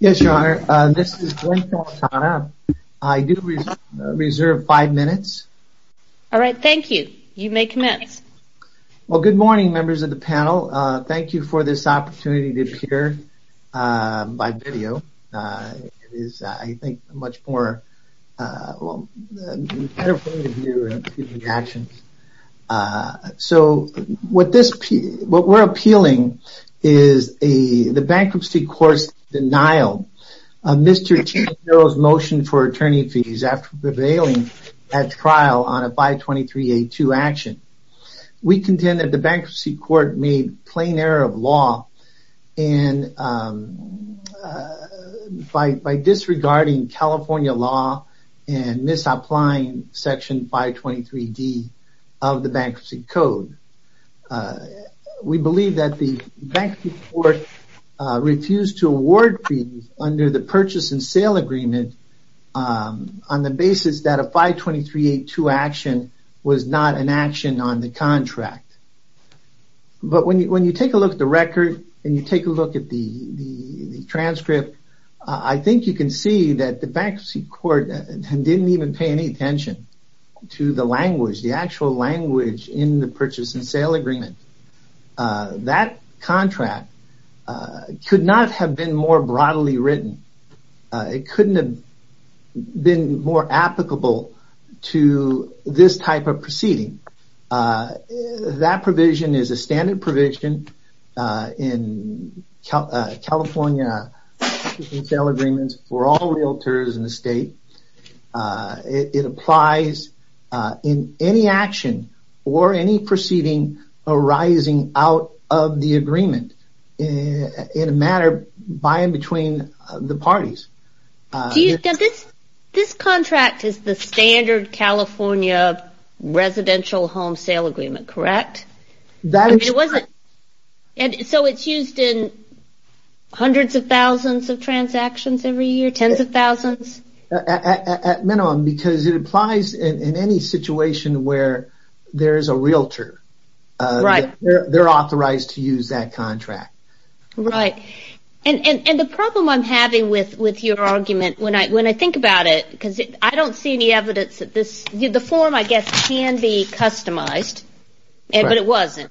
Yes, Your Honor. This is Dwayne Santana. I do reserve five minutes. All right. Thank you. You may commence. Well, good morning, members of the panel. Thank you for this opportunity to appear by video. It is, I think, a much more, well, a better point of view, excuse me, actions. So, what we're appealing is the bankruptcy court's denial of Mr. Tinajero's motion for attorney fees after prevailing at trial on a 523A2 action. We contend that the bankruptcy court made plain error of law and by disregarding California law and misapplying Section 523D of the bankruptcy code. We believe that the bankruptcy court refused to award fees under the purchase and sale agreement on the basis that a 523A2 action was not an action on the contract. But when you take a look at the record and you take a look at the transcript, I think you can see that the bankruptcy court didn't even pay any attention to the language, the actual language in the purchase and sale agreement. That contract could not have been more broadly written. It couldn't have been more applicable to this type of proceeding. That provision is a standard provision in California purchase and sale agreements for all realtors in the state. It applies in any action or any proceeding arising out of the agreement in a matter by and between the parties. This contract is the standard California residential home sale agreement, correct? So it's used in hundreds of thousands of transactions every year, tens of thousands? At minimum, because it applies in any situation where there is a realtor. They're authorized to use that contract. And the problem I'm having with your argument, when I think about it, because I don't see any customized, but it wasn't.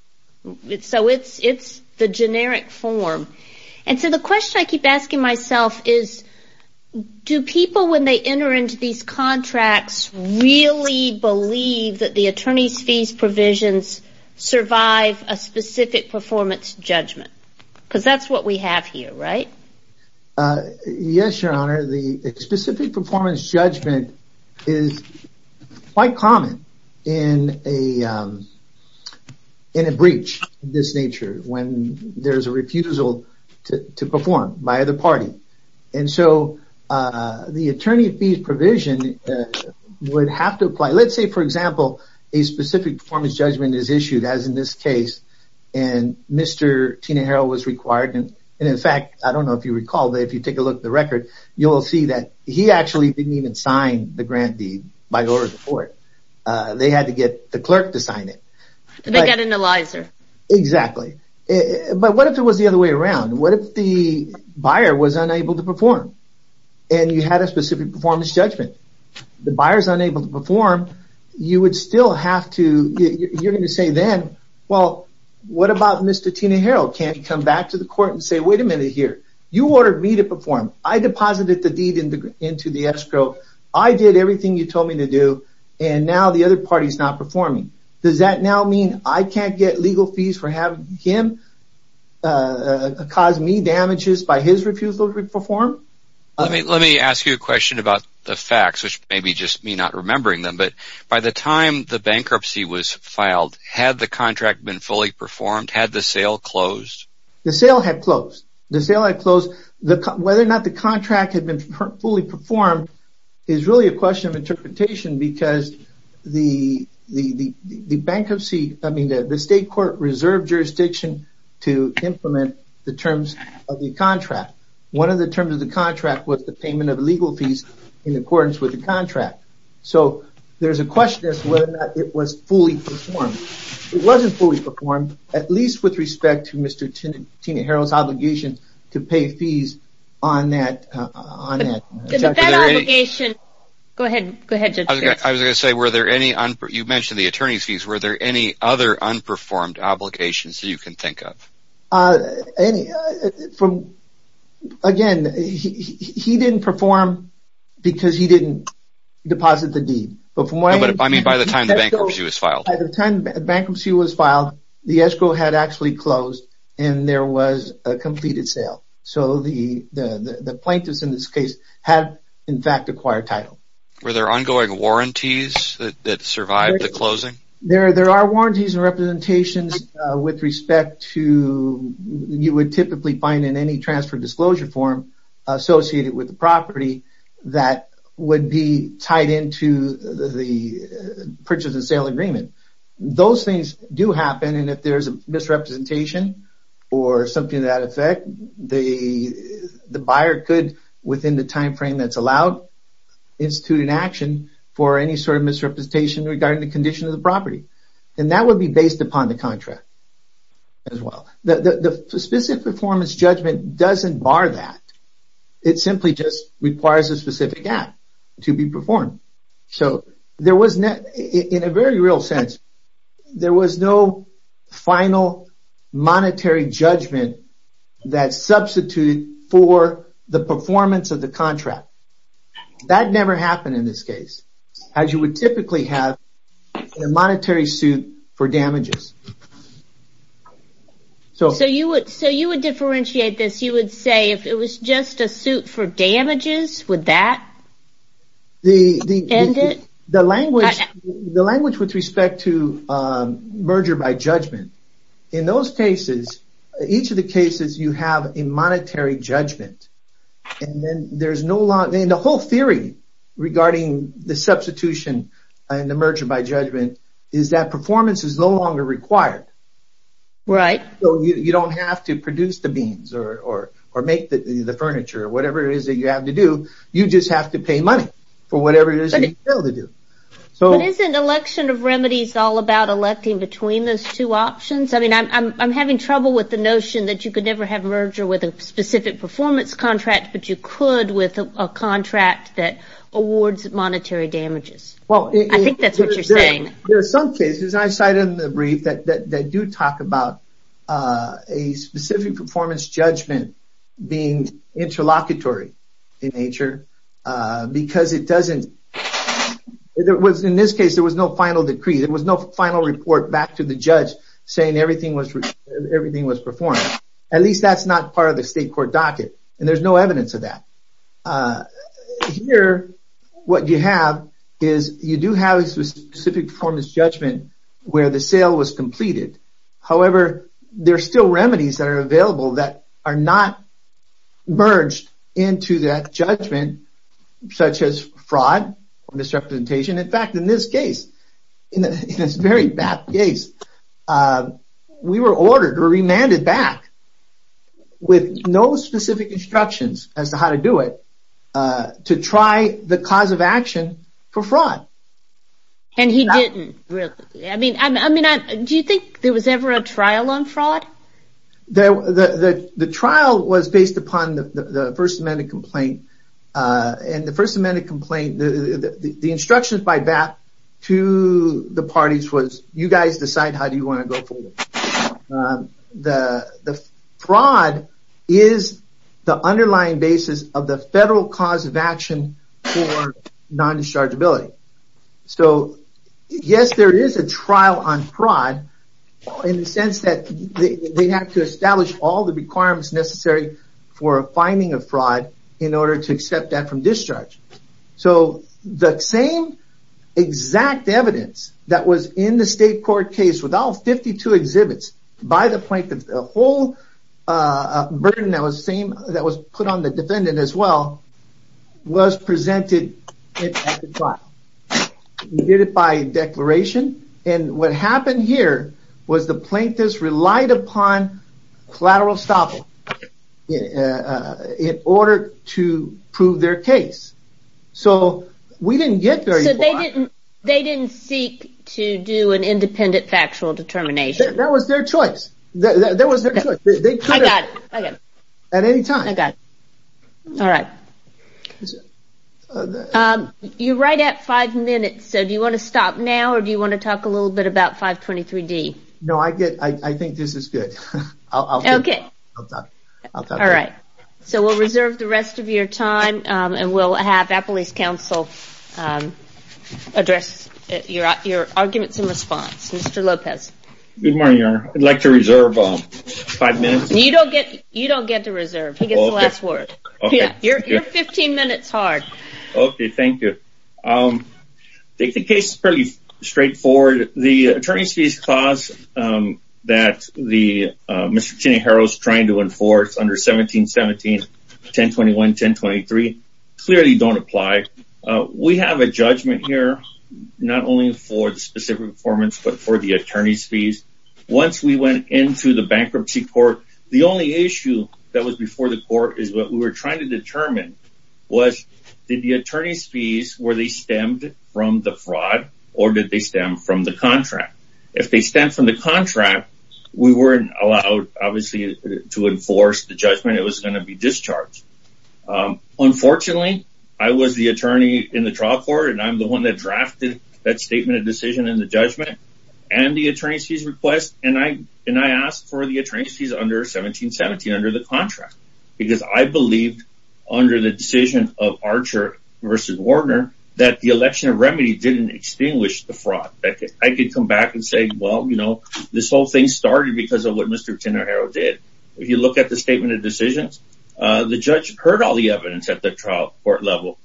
So it's the generic form. And so the question I keep asking myself is, do people, when they enter into these contracts, really believe that the attorney's fees provisions survive a specific performance judgment? Because that's what we have here, right? Yes, your honor. The specific performance judgment is quite common in a breach of this nature, when there's a refusal to perform by the party. And so the attorney fees provision would have to apply. Let's say, for example, a specific performance judgment is issued, as in this case, and Mr. Tina Harrell was required. And in fact, I don't know if you recall, but if you take a look at the record, you'll see that he actually didn't even sign the grant deed by the order of the court. They had to get the clerk to sign it. And they got an Eliza. Exactly. But what if it was the other way around? What if the buyer was unable to perform? And you had a specific performance judgment? The buyer's unable to perform, you would still have to, you're going to say then, well, what about Mr. Tina Harrell? Can't he come back to the court and say, wait a minute here, you ordered me to perform. I deposited the deed into the escrow. I did everything you told me to do. And now the other party's not performing. Does that now mean I can't get legal fees for having him cause me damages by his refusal to perform? Let me ask you a question about the facts, which may be just me not remembering them. But by the time the bankruptcy was filed, had the contract been fully performed? Had the sale closed? The sale had closed. The sale had closed. Whether or not the contract had been fully performed is really a question of interpretation because the bankruptcy, I mean, the state court reserved jurisdiction to implement the terms of the contract. One of the terms of the contract was the payment of legal fees in accordance with the contract. So there's a question as to whether or not it was fully performed. It wasn't fully performed, at least with respect to Mr. Tina Harrell's obligation to pay fees on that. I was going to say, you mentioned the attorney's fees. Were there other unperformed obligations that you can think of? Again, he didn't perform because he didn't deposit the deed. I mean, by the time the bankruptcy was filed. By the time the bankruptcy was filed, the escrow had actually closed and there was a completed sale. So the plaintiffs in this case had, in fact, acquired title. Were there ongoing warranties that survived the closing? There are warranties and representations with respect to, you would typically find in any transfer disclosure form associated with the property that would be tied into the purchase and sale agreement. Those things do happen and if there's a misrepresentation or something to that effect, the buyer could, within the time frame that's allowed, institute an action for any sort of misrepresentation regarding the condition of the property. That would be based upon the contract as well. The specific performance judgment doesn't bar that. It simply just requires a specific act to be performed. In a very real sense, there was no final monetary judgment that substituted for the performance of contract. That never happened in this case, as you would typically have in a monetary suit for damages. So you would differentiate this, you would say, if it was just a suit for damages, would that end it? The language with respect to merger by judgment, in those cases, each of the whole theory regarding the substitution and the merger by judgment is that performance is no longer required. You don't have to produce the beans or make the furniture, whatever it is that you have to do. You just have to pay money for whatever it is that you fail to do. But isn't election of remedies all about electing between those two options? I'm having trouble with the notion that you could never have merger with a specific performance contract, but you could with a contract that awards monetary damages. I think that's what you're saying. There are some cases, and I cited them in the brief, that do talk about a specific performance judgment being interlocutory in nature. In this case, there was no final decree. There was no final report back to the judge saying everything was performed. At least that's not part of the court docket, and there's no evidence of that. Here, what you have is you do have a specific performance judgment where the sale was completed. However, there are still remedies that are available that are not merged into that judgment, such as fraud or misrepresentation. In fact, in this case, in this very BAP case, we were ordered or remanded back with no specific instructions as to how to do it to try the cause of action for fraud. Do you think there was ever a trial on fraud? The trial was based upon the First Amendment complaint. In the First Amendment complaint, the instructions by BAP to the parties was, you guys decide how you want to go forward. The fraud is the underlying basis of the federal cause of action for non-dischargeability. Yes, there is a trial on fraud in the sense that they have to establish all the requirements necessary for finding a fraud in order to accept that from discharge. The same exact evidence that was in the state court case with all 52 exhibits by the plaintiff, the whole burden that was put on the defendant as well, was presented at the trial. We did it by declaration, and what happened here was the plaintiffs relied upon collateral stoppage in order to prove their case. They didn't seek to do an independent factual determination. That was their choice. You're right at five minutes, so do you want to stop now, or do you want to talk a little bit about 523D? No, I think this is good. So we'll reserve the rest of your time, and we'll have Appalachia Council address your arguments in response. Mr. Lopez. Good morning, Your Honor. I'd like to reserve five minutes. You don't get to reserve. He gets the last word. You're 15 minutes hard. Okay, thank you. I think the case is fairly straightforward. The attorney's fees clause that Mr. Cheney-Harrow is trying to enforce under 1717, 1021, 1023, clearly don't apply. We have a judgment here, not only for the specific performance, but for the attorney's fees. Once we went into the bankruptcy court, the only issue that was before the court is what we were trying to determine was, did the attorney's fees, were they stemmed from the fraud, or did they stem from the contract? If they stem from the contract, we weren't allowed, obviously, to in the trial court, and I'm the one that drafted that statement of decision in the judgment, and the attorney's fees request, and I asked for the attorney's fees under 1717 under the contract, because I believed, under the decision of Archer versus Warner, that the election of remedy didn't extinguish the fraud. I could come back and say, well, you know, this whole thing started because of what Mr. Cheney-Harrow did. If you look at the statement of decisions, the judge heard all evidence at the trial court level,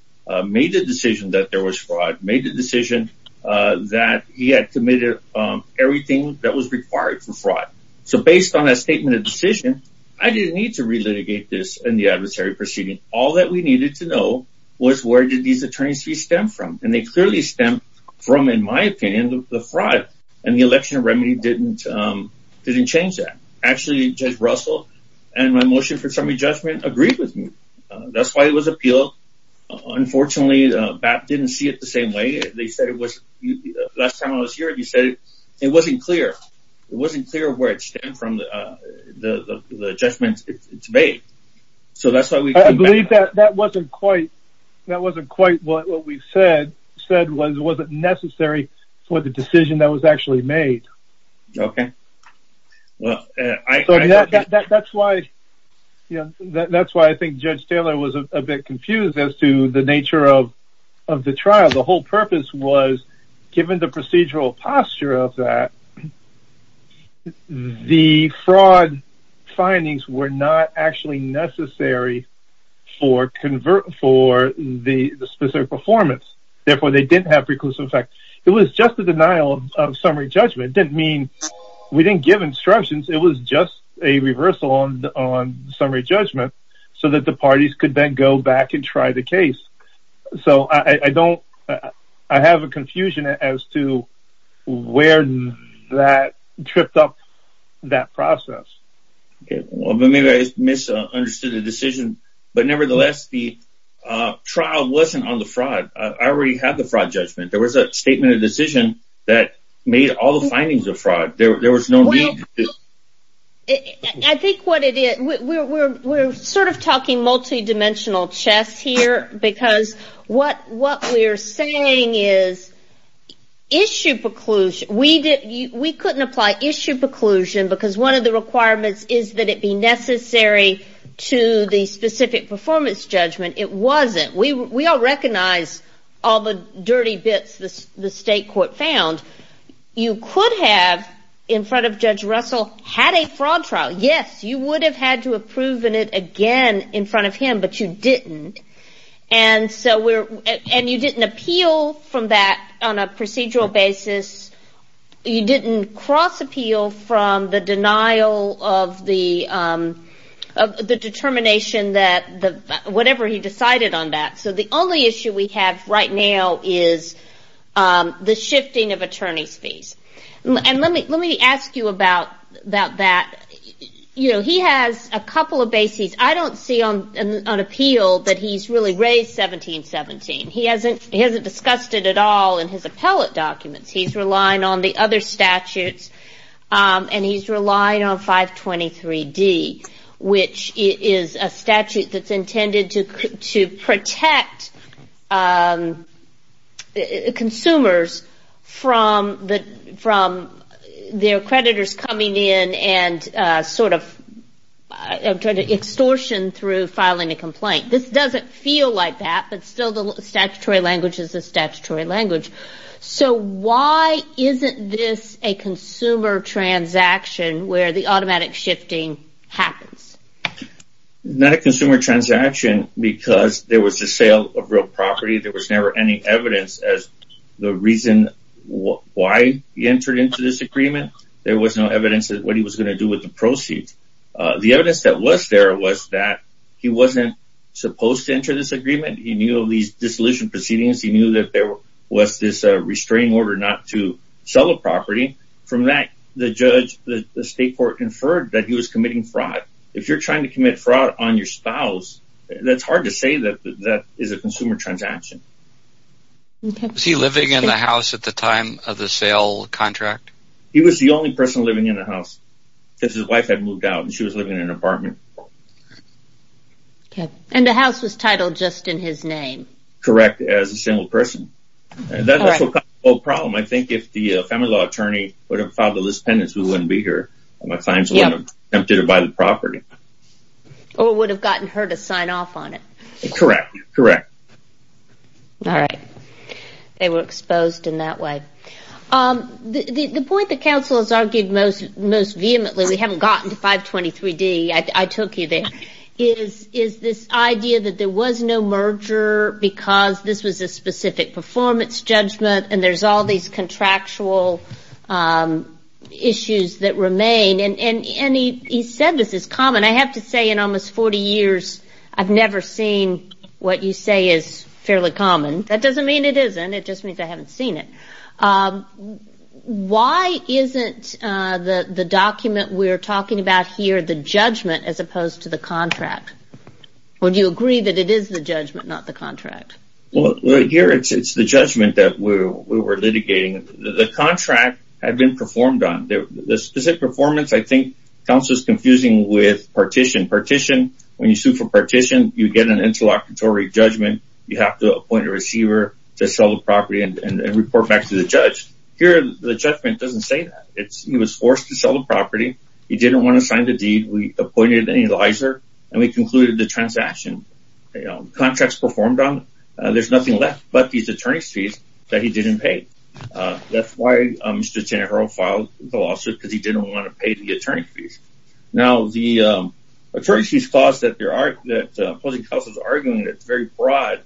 made the decision that there was fraud, made the decision that he had committed everything that was required for fraud. So, based on that statement of decision, I didn't need to re-litigate this in the adversary proceeding. All that we needed to know was where did these attorney's fees stem from, and they clearly stem from, in my opinion, the fraud, and the election of remedy didn't change that. Actually, Judge Russell and my appeal, unfortunately, BAP didn't see it the same way. Last time I was here, you said it wasn't clear. It wasn't clear where it stemmed from, the judgment it's made. So, that's why we... I believe that wasn't quite what we said was necessary for the decision that was actually made. Okay, well, that's why, you know, that's why I think Judge Taylor was a bit confused as to the nature of the trial. The whole purpose was, given the procedural posture of that, the fraud findings were not actually necessary for the specific performance. Therefore, they didn't have preclusive effect. It was just the denial of summary judgment. It didn't mean we didn't give instructions. It was just a reversal on summary judgment so that the parties could then go back and try the case. So, I don't... I have a confusion as to where that tripped up that process. Okay, well, maybe I misunderstood the decision, but nevertheless, the trial wasn't on the fraud. I already had the fraud judgment. There was a statement of decision that made all the findings of fraud. There was no... I think what it is, we're sort of talking multi-dimensional chess here because what we're saying is issue preclusion. We couldn't apply issue preclusion because one of the performance judgments, it wasn't. We all recognize all the dirty bits the state court found. You could have, in front of Judge Russell, had a fraud trial. Yes, you would have had to have proven it again in front of him, but you didn't. And you didn't appeal from that on a procedural whatever he decided on that. So, the only issue we have right now is the shifting of attorney's fees. And let me ask you about that. He has a couple of bases. I don't see on appeal that he's really raised 1717. He hasn't discussed it at all in his appellate documents. He's relying on the intended to protect consumers from their creditors coming in and sort of extortion through filing a complaint. This doesn't feel like that, but still the statutory language is the statutory language. So, why isn't this a consumer transaction where the automatic shifting happens? It's not a consumer transaction because there was a sale of real property. There was never any evidence as the reason why he entered into this agreement. There was no evidence of what he was going to do with the proceeds. The evidence that was there was that he wasn't supposed to enter this agreement. He knew of these dissolution proceedings. He knew that there was this restraining order not to sell a property. From that, the judge, the state court inferred that he was committing fraud. If you're trying to commit fraud on your spouse, that's hard to say that that is a consumer transaction. Was he living in the house at the time of the sale contract? He was the only person living in the house because his wife had moved out and she was living in an apartment. Okay. And the house was titled just in his name? Correct. As a single person. That's a problem. I think if the family law attorney would have allowed the list of tenants, we wouldn't be here. Or it would have gotten her to sign off on it. Correct. All right. They were exposed in that way. The point that counsel has argued most vehemently, we haven't gotten to 523D, I took you there, is this idea that there was no merger because this was a specific performance judgment and there's all these contractual issues that remain. And he said this is common. I have to say in almost 40 years, I've never seen what you say is fairly common. That doesn't mean it isn't. It just means I haven't seen it. Why isn't the document we're talking about here the judgment as opposed to the contract? Or do you agree that it is the judgment, not the contract? Here, it's the judgment that we were litigating. The contract had been performed on. The specific performance, I think, counsel is confusing with partition. Partition, when you sue for partition, you get an interlocutory judgment. You have to appoint a receiver to sell the property and report back to the judge. Here, the judgment doesn't say that. He was forced to sell the property. He didn't want to sign the deed. We appointed an analyzer and we concluded the transaction. Contracts performed on it. There's nothing left but these attorney's fees that he didn't pay. That's why Mr. Tannehill filed the lawsuit because he didn't want to pay the attorney's fees. Now, the attorney's fees clause that the opposing counsel is arguing is very broad.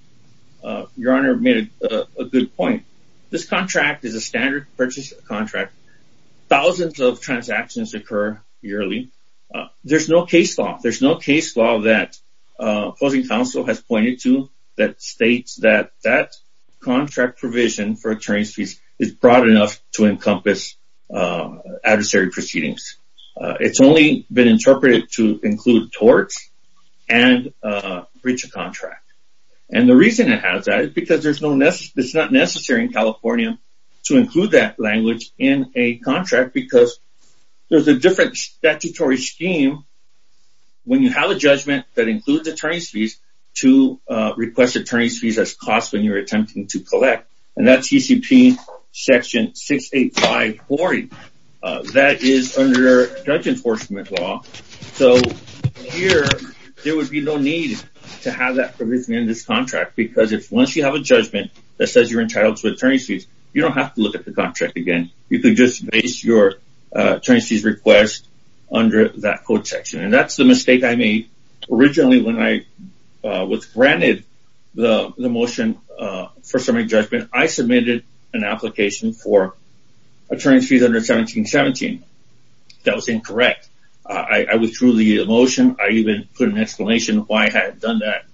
Your Honor made a good point. This contract is a standard purchase contract. Thousands of counsel has pointed to that states that that contract provision for attorney's fees is broad enough to encompass adversary proceedings. It's only been interpreted to include torts and breach of contract. The reason it has that is because it's not necessary in California to include that language in a contract because there's a different statutory scheme when you have a judgment that includes attorney's fees to request attorney's fees as costs when you're attempting to collect. That's CCP section 68540. That is under judge enforcement law. Here, there would be no need to have that provision in this contract because once you have a judgment that says you're entitled to attorney's fees, you don't have to look at the That's the mistake I made originally when I was granted the motion for summary judgment. I submitted an application for attorney's fees under 1717. That was incorrect. I withdrew the motion. I even put an explanation why I had done that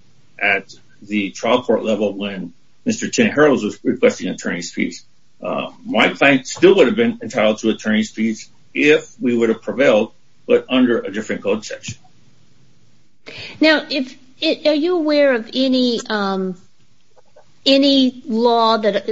at the trial court level when Mr. Tannehill was requesting attorney's fees. My client still would have been entitled to attorney's fees if we would have prevailed, but under a different code section. Now, are you aware of any law that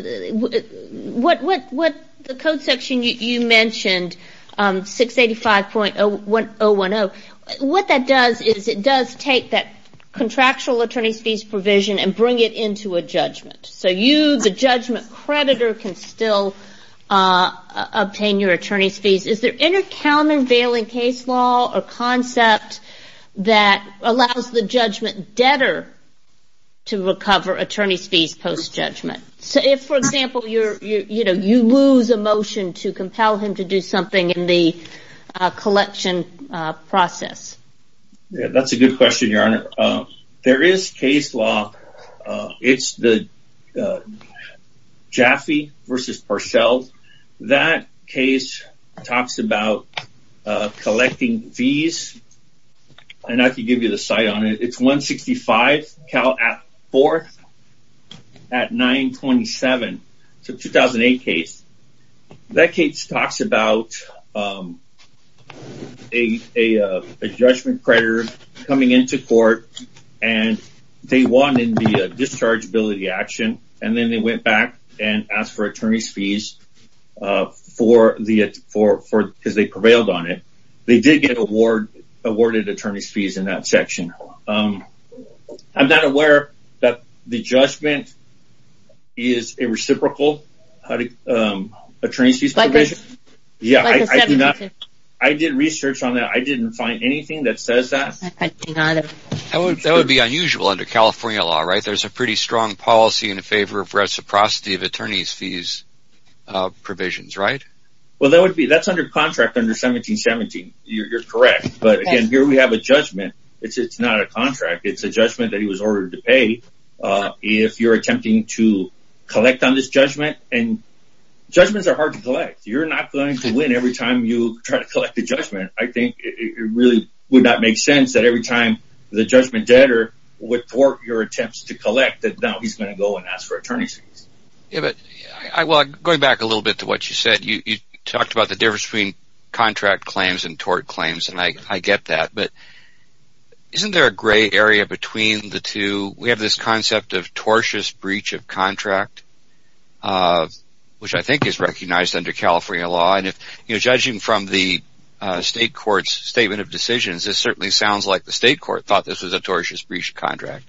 the code section you mentioned, 685.010, what that does is it does take that contractual attorney's fees provision and bring it into a judgment. You, the judgment creditor, can still obtain your attorney's fees. Is there any countervailing case law or concept that allows the judgment debtor to recover attorney's fees post-judgment? For example, you lose a motion to compel him to do something in the collection process. That's a good question, your honor. There is case law. It's the Jaffe v. Parcell. That case talks about collecting fees, and I can give you the site on it. It's 165 4th at 927. It's a 2008 case. That case talks about a judgment creditor coming into court, and they won in the dischargeability action, and then they went back and asked for attorney's fees because they prevailed on it. They did get awarded attorney's fees in that section. I'm not aware that the judgment is a reciprocal attorney's fees provision. I did research on that. I didn't find anything that says that. That would be unusual under California law, right? There's a pretty strong policy in favor of reciprocity of attorney's fees provisions, right? That's under contract under 1717. You're correct, but again, here we have a judgment. It's not a contract. It's a judgment that he was ordered to pay. If you're attempting to collect on this judgment, and judgments are hard to collect. You're not going to win every time you try to collect a judgment. I think it really would not make sense that every time the judgment debtor would thwart your attempts to collect that now he's going to go and ask for attorney's fees. Going back a little bit to what you said, you talked about the difference between contract claims and tort claims, and I get that, but isn't there a gray area between the two? We have this concept of tortious breach of contract, which I think is recognized under California law. Judging from the state court's statement of decisions, it certainly sounds like the state court thought this was a tortious breach of contract.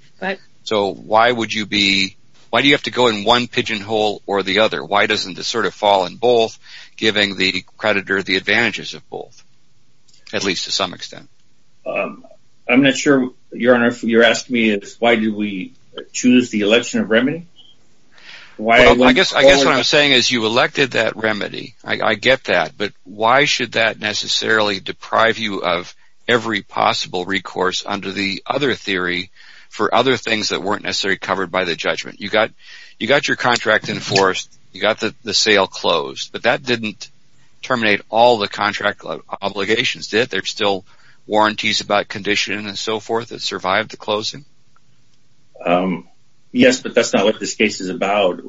Why do you have to go in one pigeon hole or the other? Why doesn't this fall in giving the creditor the advantages of both, at least to some extent? I'm not sure, Your Honor, if you're asking me why did we choose the election of remedies? I guess what I'm saying is you elected that remedy. I get that, but why should that necessarily deprive you of every possible recourse under the other theory for other things that weren't necessarily covered by the judgment? You got your contract enforced. You got the sale closed. That didn't terminate all the contract obligations, did it? There are still warranties about conditioning and so forth that survived the closing? Yes, but that's not what this case is about.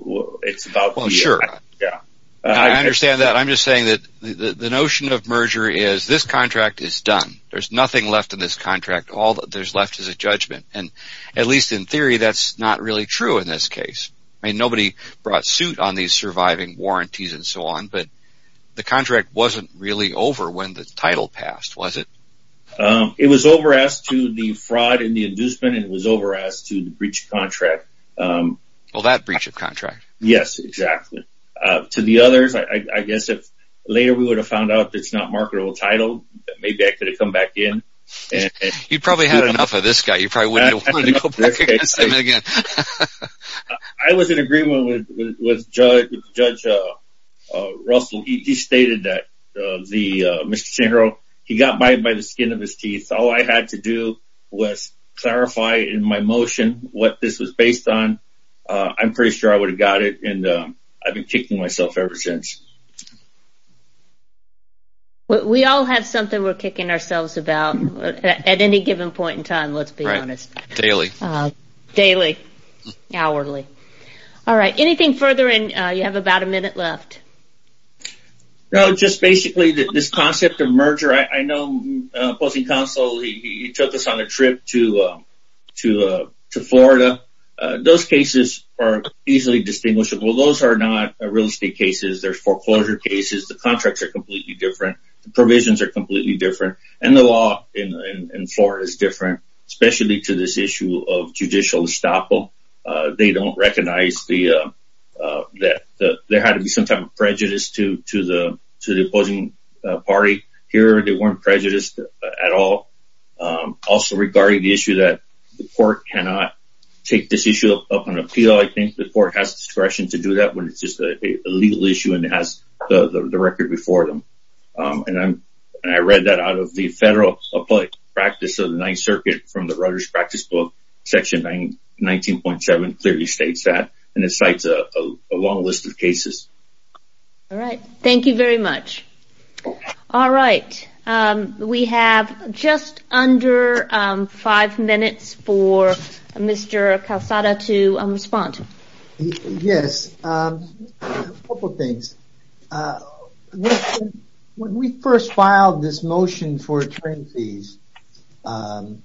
I understand that. I'm just saying that the notion of merger is this contract is done. There's nothing left in this contract. All that's left is a judgment. At least in theory, that's not really true in this case. Nobody brought suit on these surviving warranties and so on, but the contract wasn't really over when the title passed, was it? It was over as to the fraud and the inducement. It was over as to the breach of contract. Well, that breach of contract. Yes, exactly. To the others, I guess if later we would have found out it's not marketable title, maybe I could have come back in. You probably had enough of this guy. You probably wouldn't have wanted to come back against him again. I was in agreement with Judge Russell. He stated that Mr. Sandro, he got bite by the skin of his teeth. All I had to do was clarify in my motion what this was based on. I'm pretty sure I would have got it, and I've been kicking myself ever since. We all have something we're kicking ourselves about at any given point in time, let's be honest. Daily. Daily. Hourly. Anything further? You have about a minute left. No, just basically this concept of merger. I know Posting Counsel, he took us on a trip to Florida. Those cases are easily distinguishable. Those are not real estate cases. They're foreclosure cases. The contracts are completely different. The provisions are completely different, and the law in Florida is different, especially to this issue of judicial estoppel. They don't recognize that there had to be some type of prejudice to the opposing party. Here, they weren't prejudiced at all. Also, regarding the issue that the court cannot take this issue up on appeal, I think the court has discretion to do that when it's just a legal issue and it has the record before them. I read that out of the Federal Appellate Practice of the Ninth Circuit from the Writer's Practice Book, Section 19.7 clearly states that, and it cites a long list of cases. All right. Thank you very much. All right. We have just under five minutes for Mr. Calzada to respond. Yes. A couple of things. When we first filed this motion for return fees, I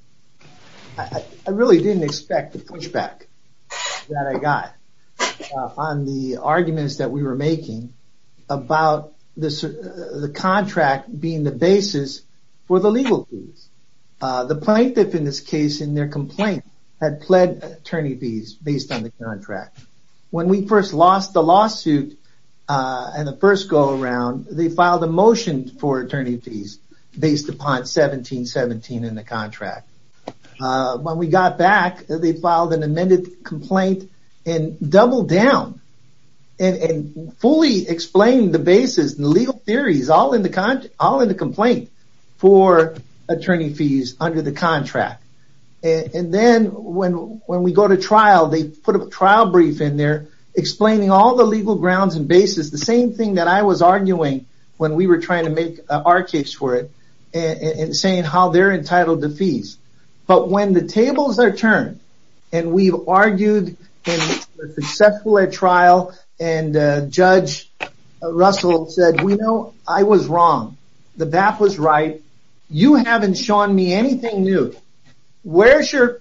really didn't expect the pushback that I got on the arguments that we were making about the contract being the basis for the legal fees. The plaintiff, in this case, in their complaint, had pled attorney fees based on the contract. When we first lost the lawsuit and the first go-around, they filed a motion for attorney fees based upon 1717 in the contract. When we got back, they filed an amended complaint and doubled down and fully explained the basis and legal theories all in the complaint for attorney fees under the contract. Then, when we go to trial, they put a trial brief in there explaining all the legal grounds and basis. The same thing that I was arguing when we were trying to make our case for it and saying how they're entitled to fees. But when the tables are turned and we've argued in a successful trial and Judge Russell said, we know I was wrong. The BAP was right. You haven't shown me anything new. Where's your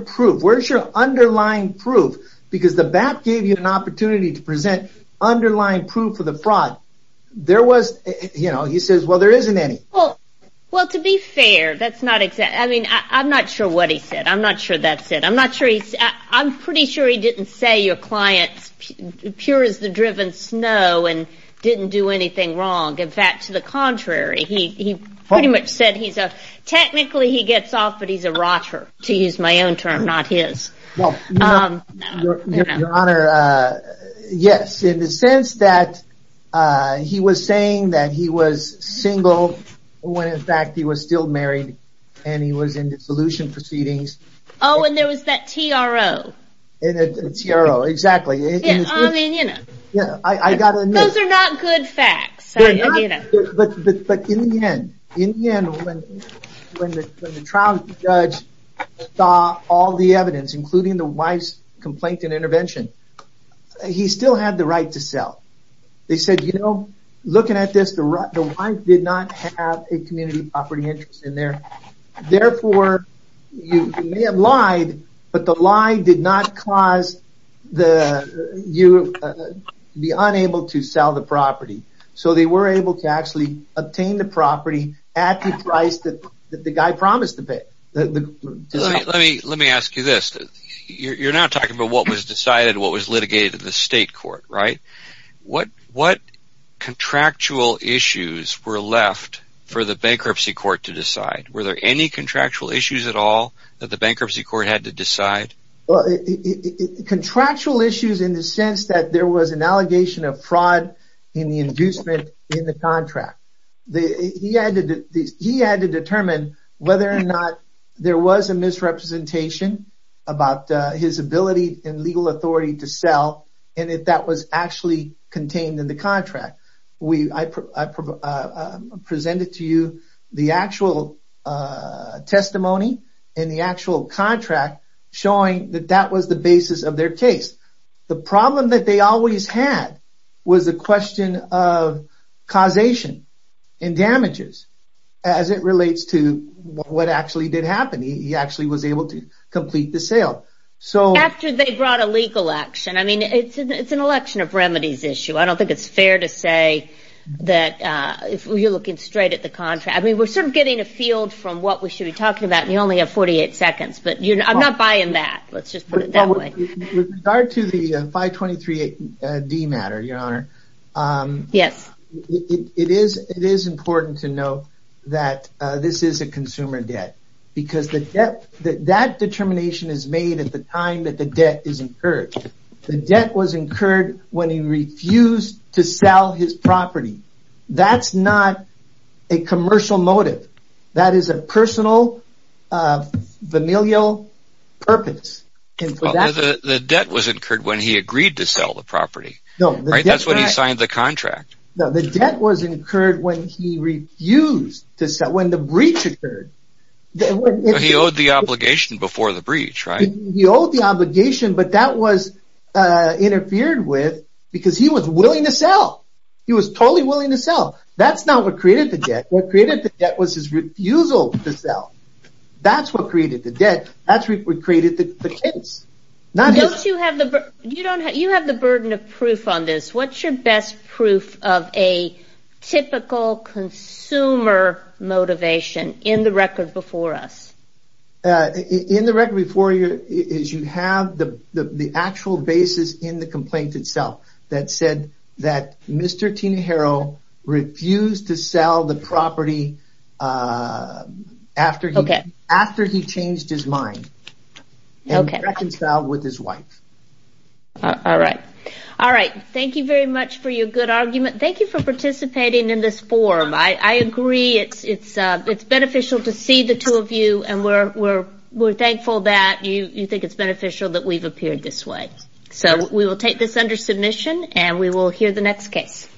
proof? Where's your underlying proof? Because the BAP gave you an opportunity to present underlying proof of the fraud. He says, well, there isn't any. Well, to be fair, I'm not sure what he said. I'm not sure that's it. I'm pretty sure he didn't say your client's pure as the driven snow and didn't do anything wrong. In fact, to the contrary, he pretty much said technically he gets off, but he's a rotter, to use my own term, not his. Well, Your Honor, yes, in the sense that he was saying that he was single when, in fact, he was still married and he was in dissolution proceedings. Oh, and there was that TRO. Exactly. Those are not good facts. But in the end, when the trial judge saw all the evidence, including the wife's complaint and intervention, he still had the right to sell. They said, you know, looking at this, the wife did not have a community property interest in there. Therefore, you may have lied, but the lie did not cause you to be unable to sell the property. So they were able to actually obtain the property at the price that the guy promised to pay. Let me ask you this. You're not talking about what was decided, what was litigated in the state court, right? What contractual issues were left for the bankruptcy court to decide? Were there any contractual issues at all that the bankruptcy court had to decide? Contractual issues in the sense that there was an allegation of fraud in the inducement in the contract. He had to determine whether or not there was a misrepresentation about his ability and legal authority to sell, and if that was actually contained in the contract. I presented to you the actual testimony in the actual contract showing that that was the basis of their case. The problem that they always had was the question of causation and damages as it relates to what actually did happen. He actually was able to complete the sale. After they brought a legal action. I mean, it's an election of remedies issue. I don't think it's fair to say that if you're looking straight at the contract. I mean, we're sort of getting a field from what we should be talking about, and you only have 48 seconds, but I'm not buying that. Let's just put it that way. With regard to the 523D matter, your honor, it is important to know that this is a consumer debt because that determination is made at the time that the debt is incurred. The debt was incurred when he refused to sell his property. That's not a commercial motive. That is a personal familial purpose. The debt was incurred when he agreed to sell the property. That's when he signed the contract. The debt was incurred when he refused to sell, when the breach occurred. He owed the obligation before the breach, right? He owed the obligation, but that was interfered with because he was willing to sell. He was totally willing to sell. That's not what created the debt. What created the debt was his refusal to sell. That's what created the debt. That's what created the kids. You have the burden of proof on this. What's your best proof of a typical consumer motivation in the record before us? In the record before you is you have the actual basis in the complaint that said that Mr. Tina Harrell refused to sell the property after he changed his mind. Thank you very much for your good argument. Thank you for participating in this forum. I agree. It's beneficial to see the two of you. We're thankful that you think it's beneficial that we've appeared this way. We will take this under submission and we will hear the next case.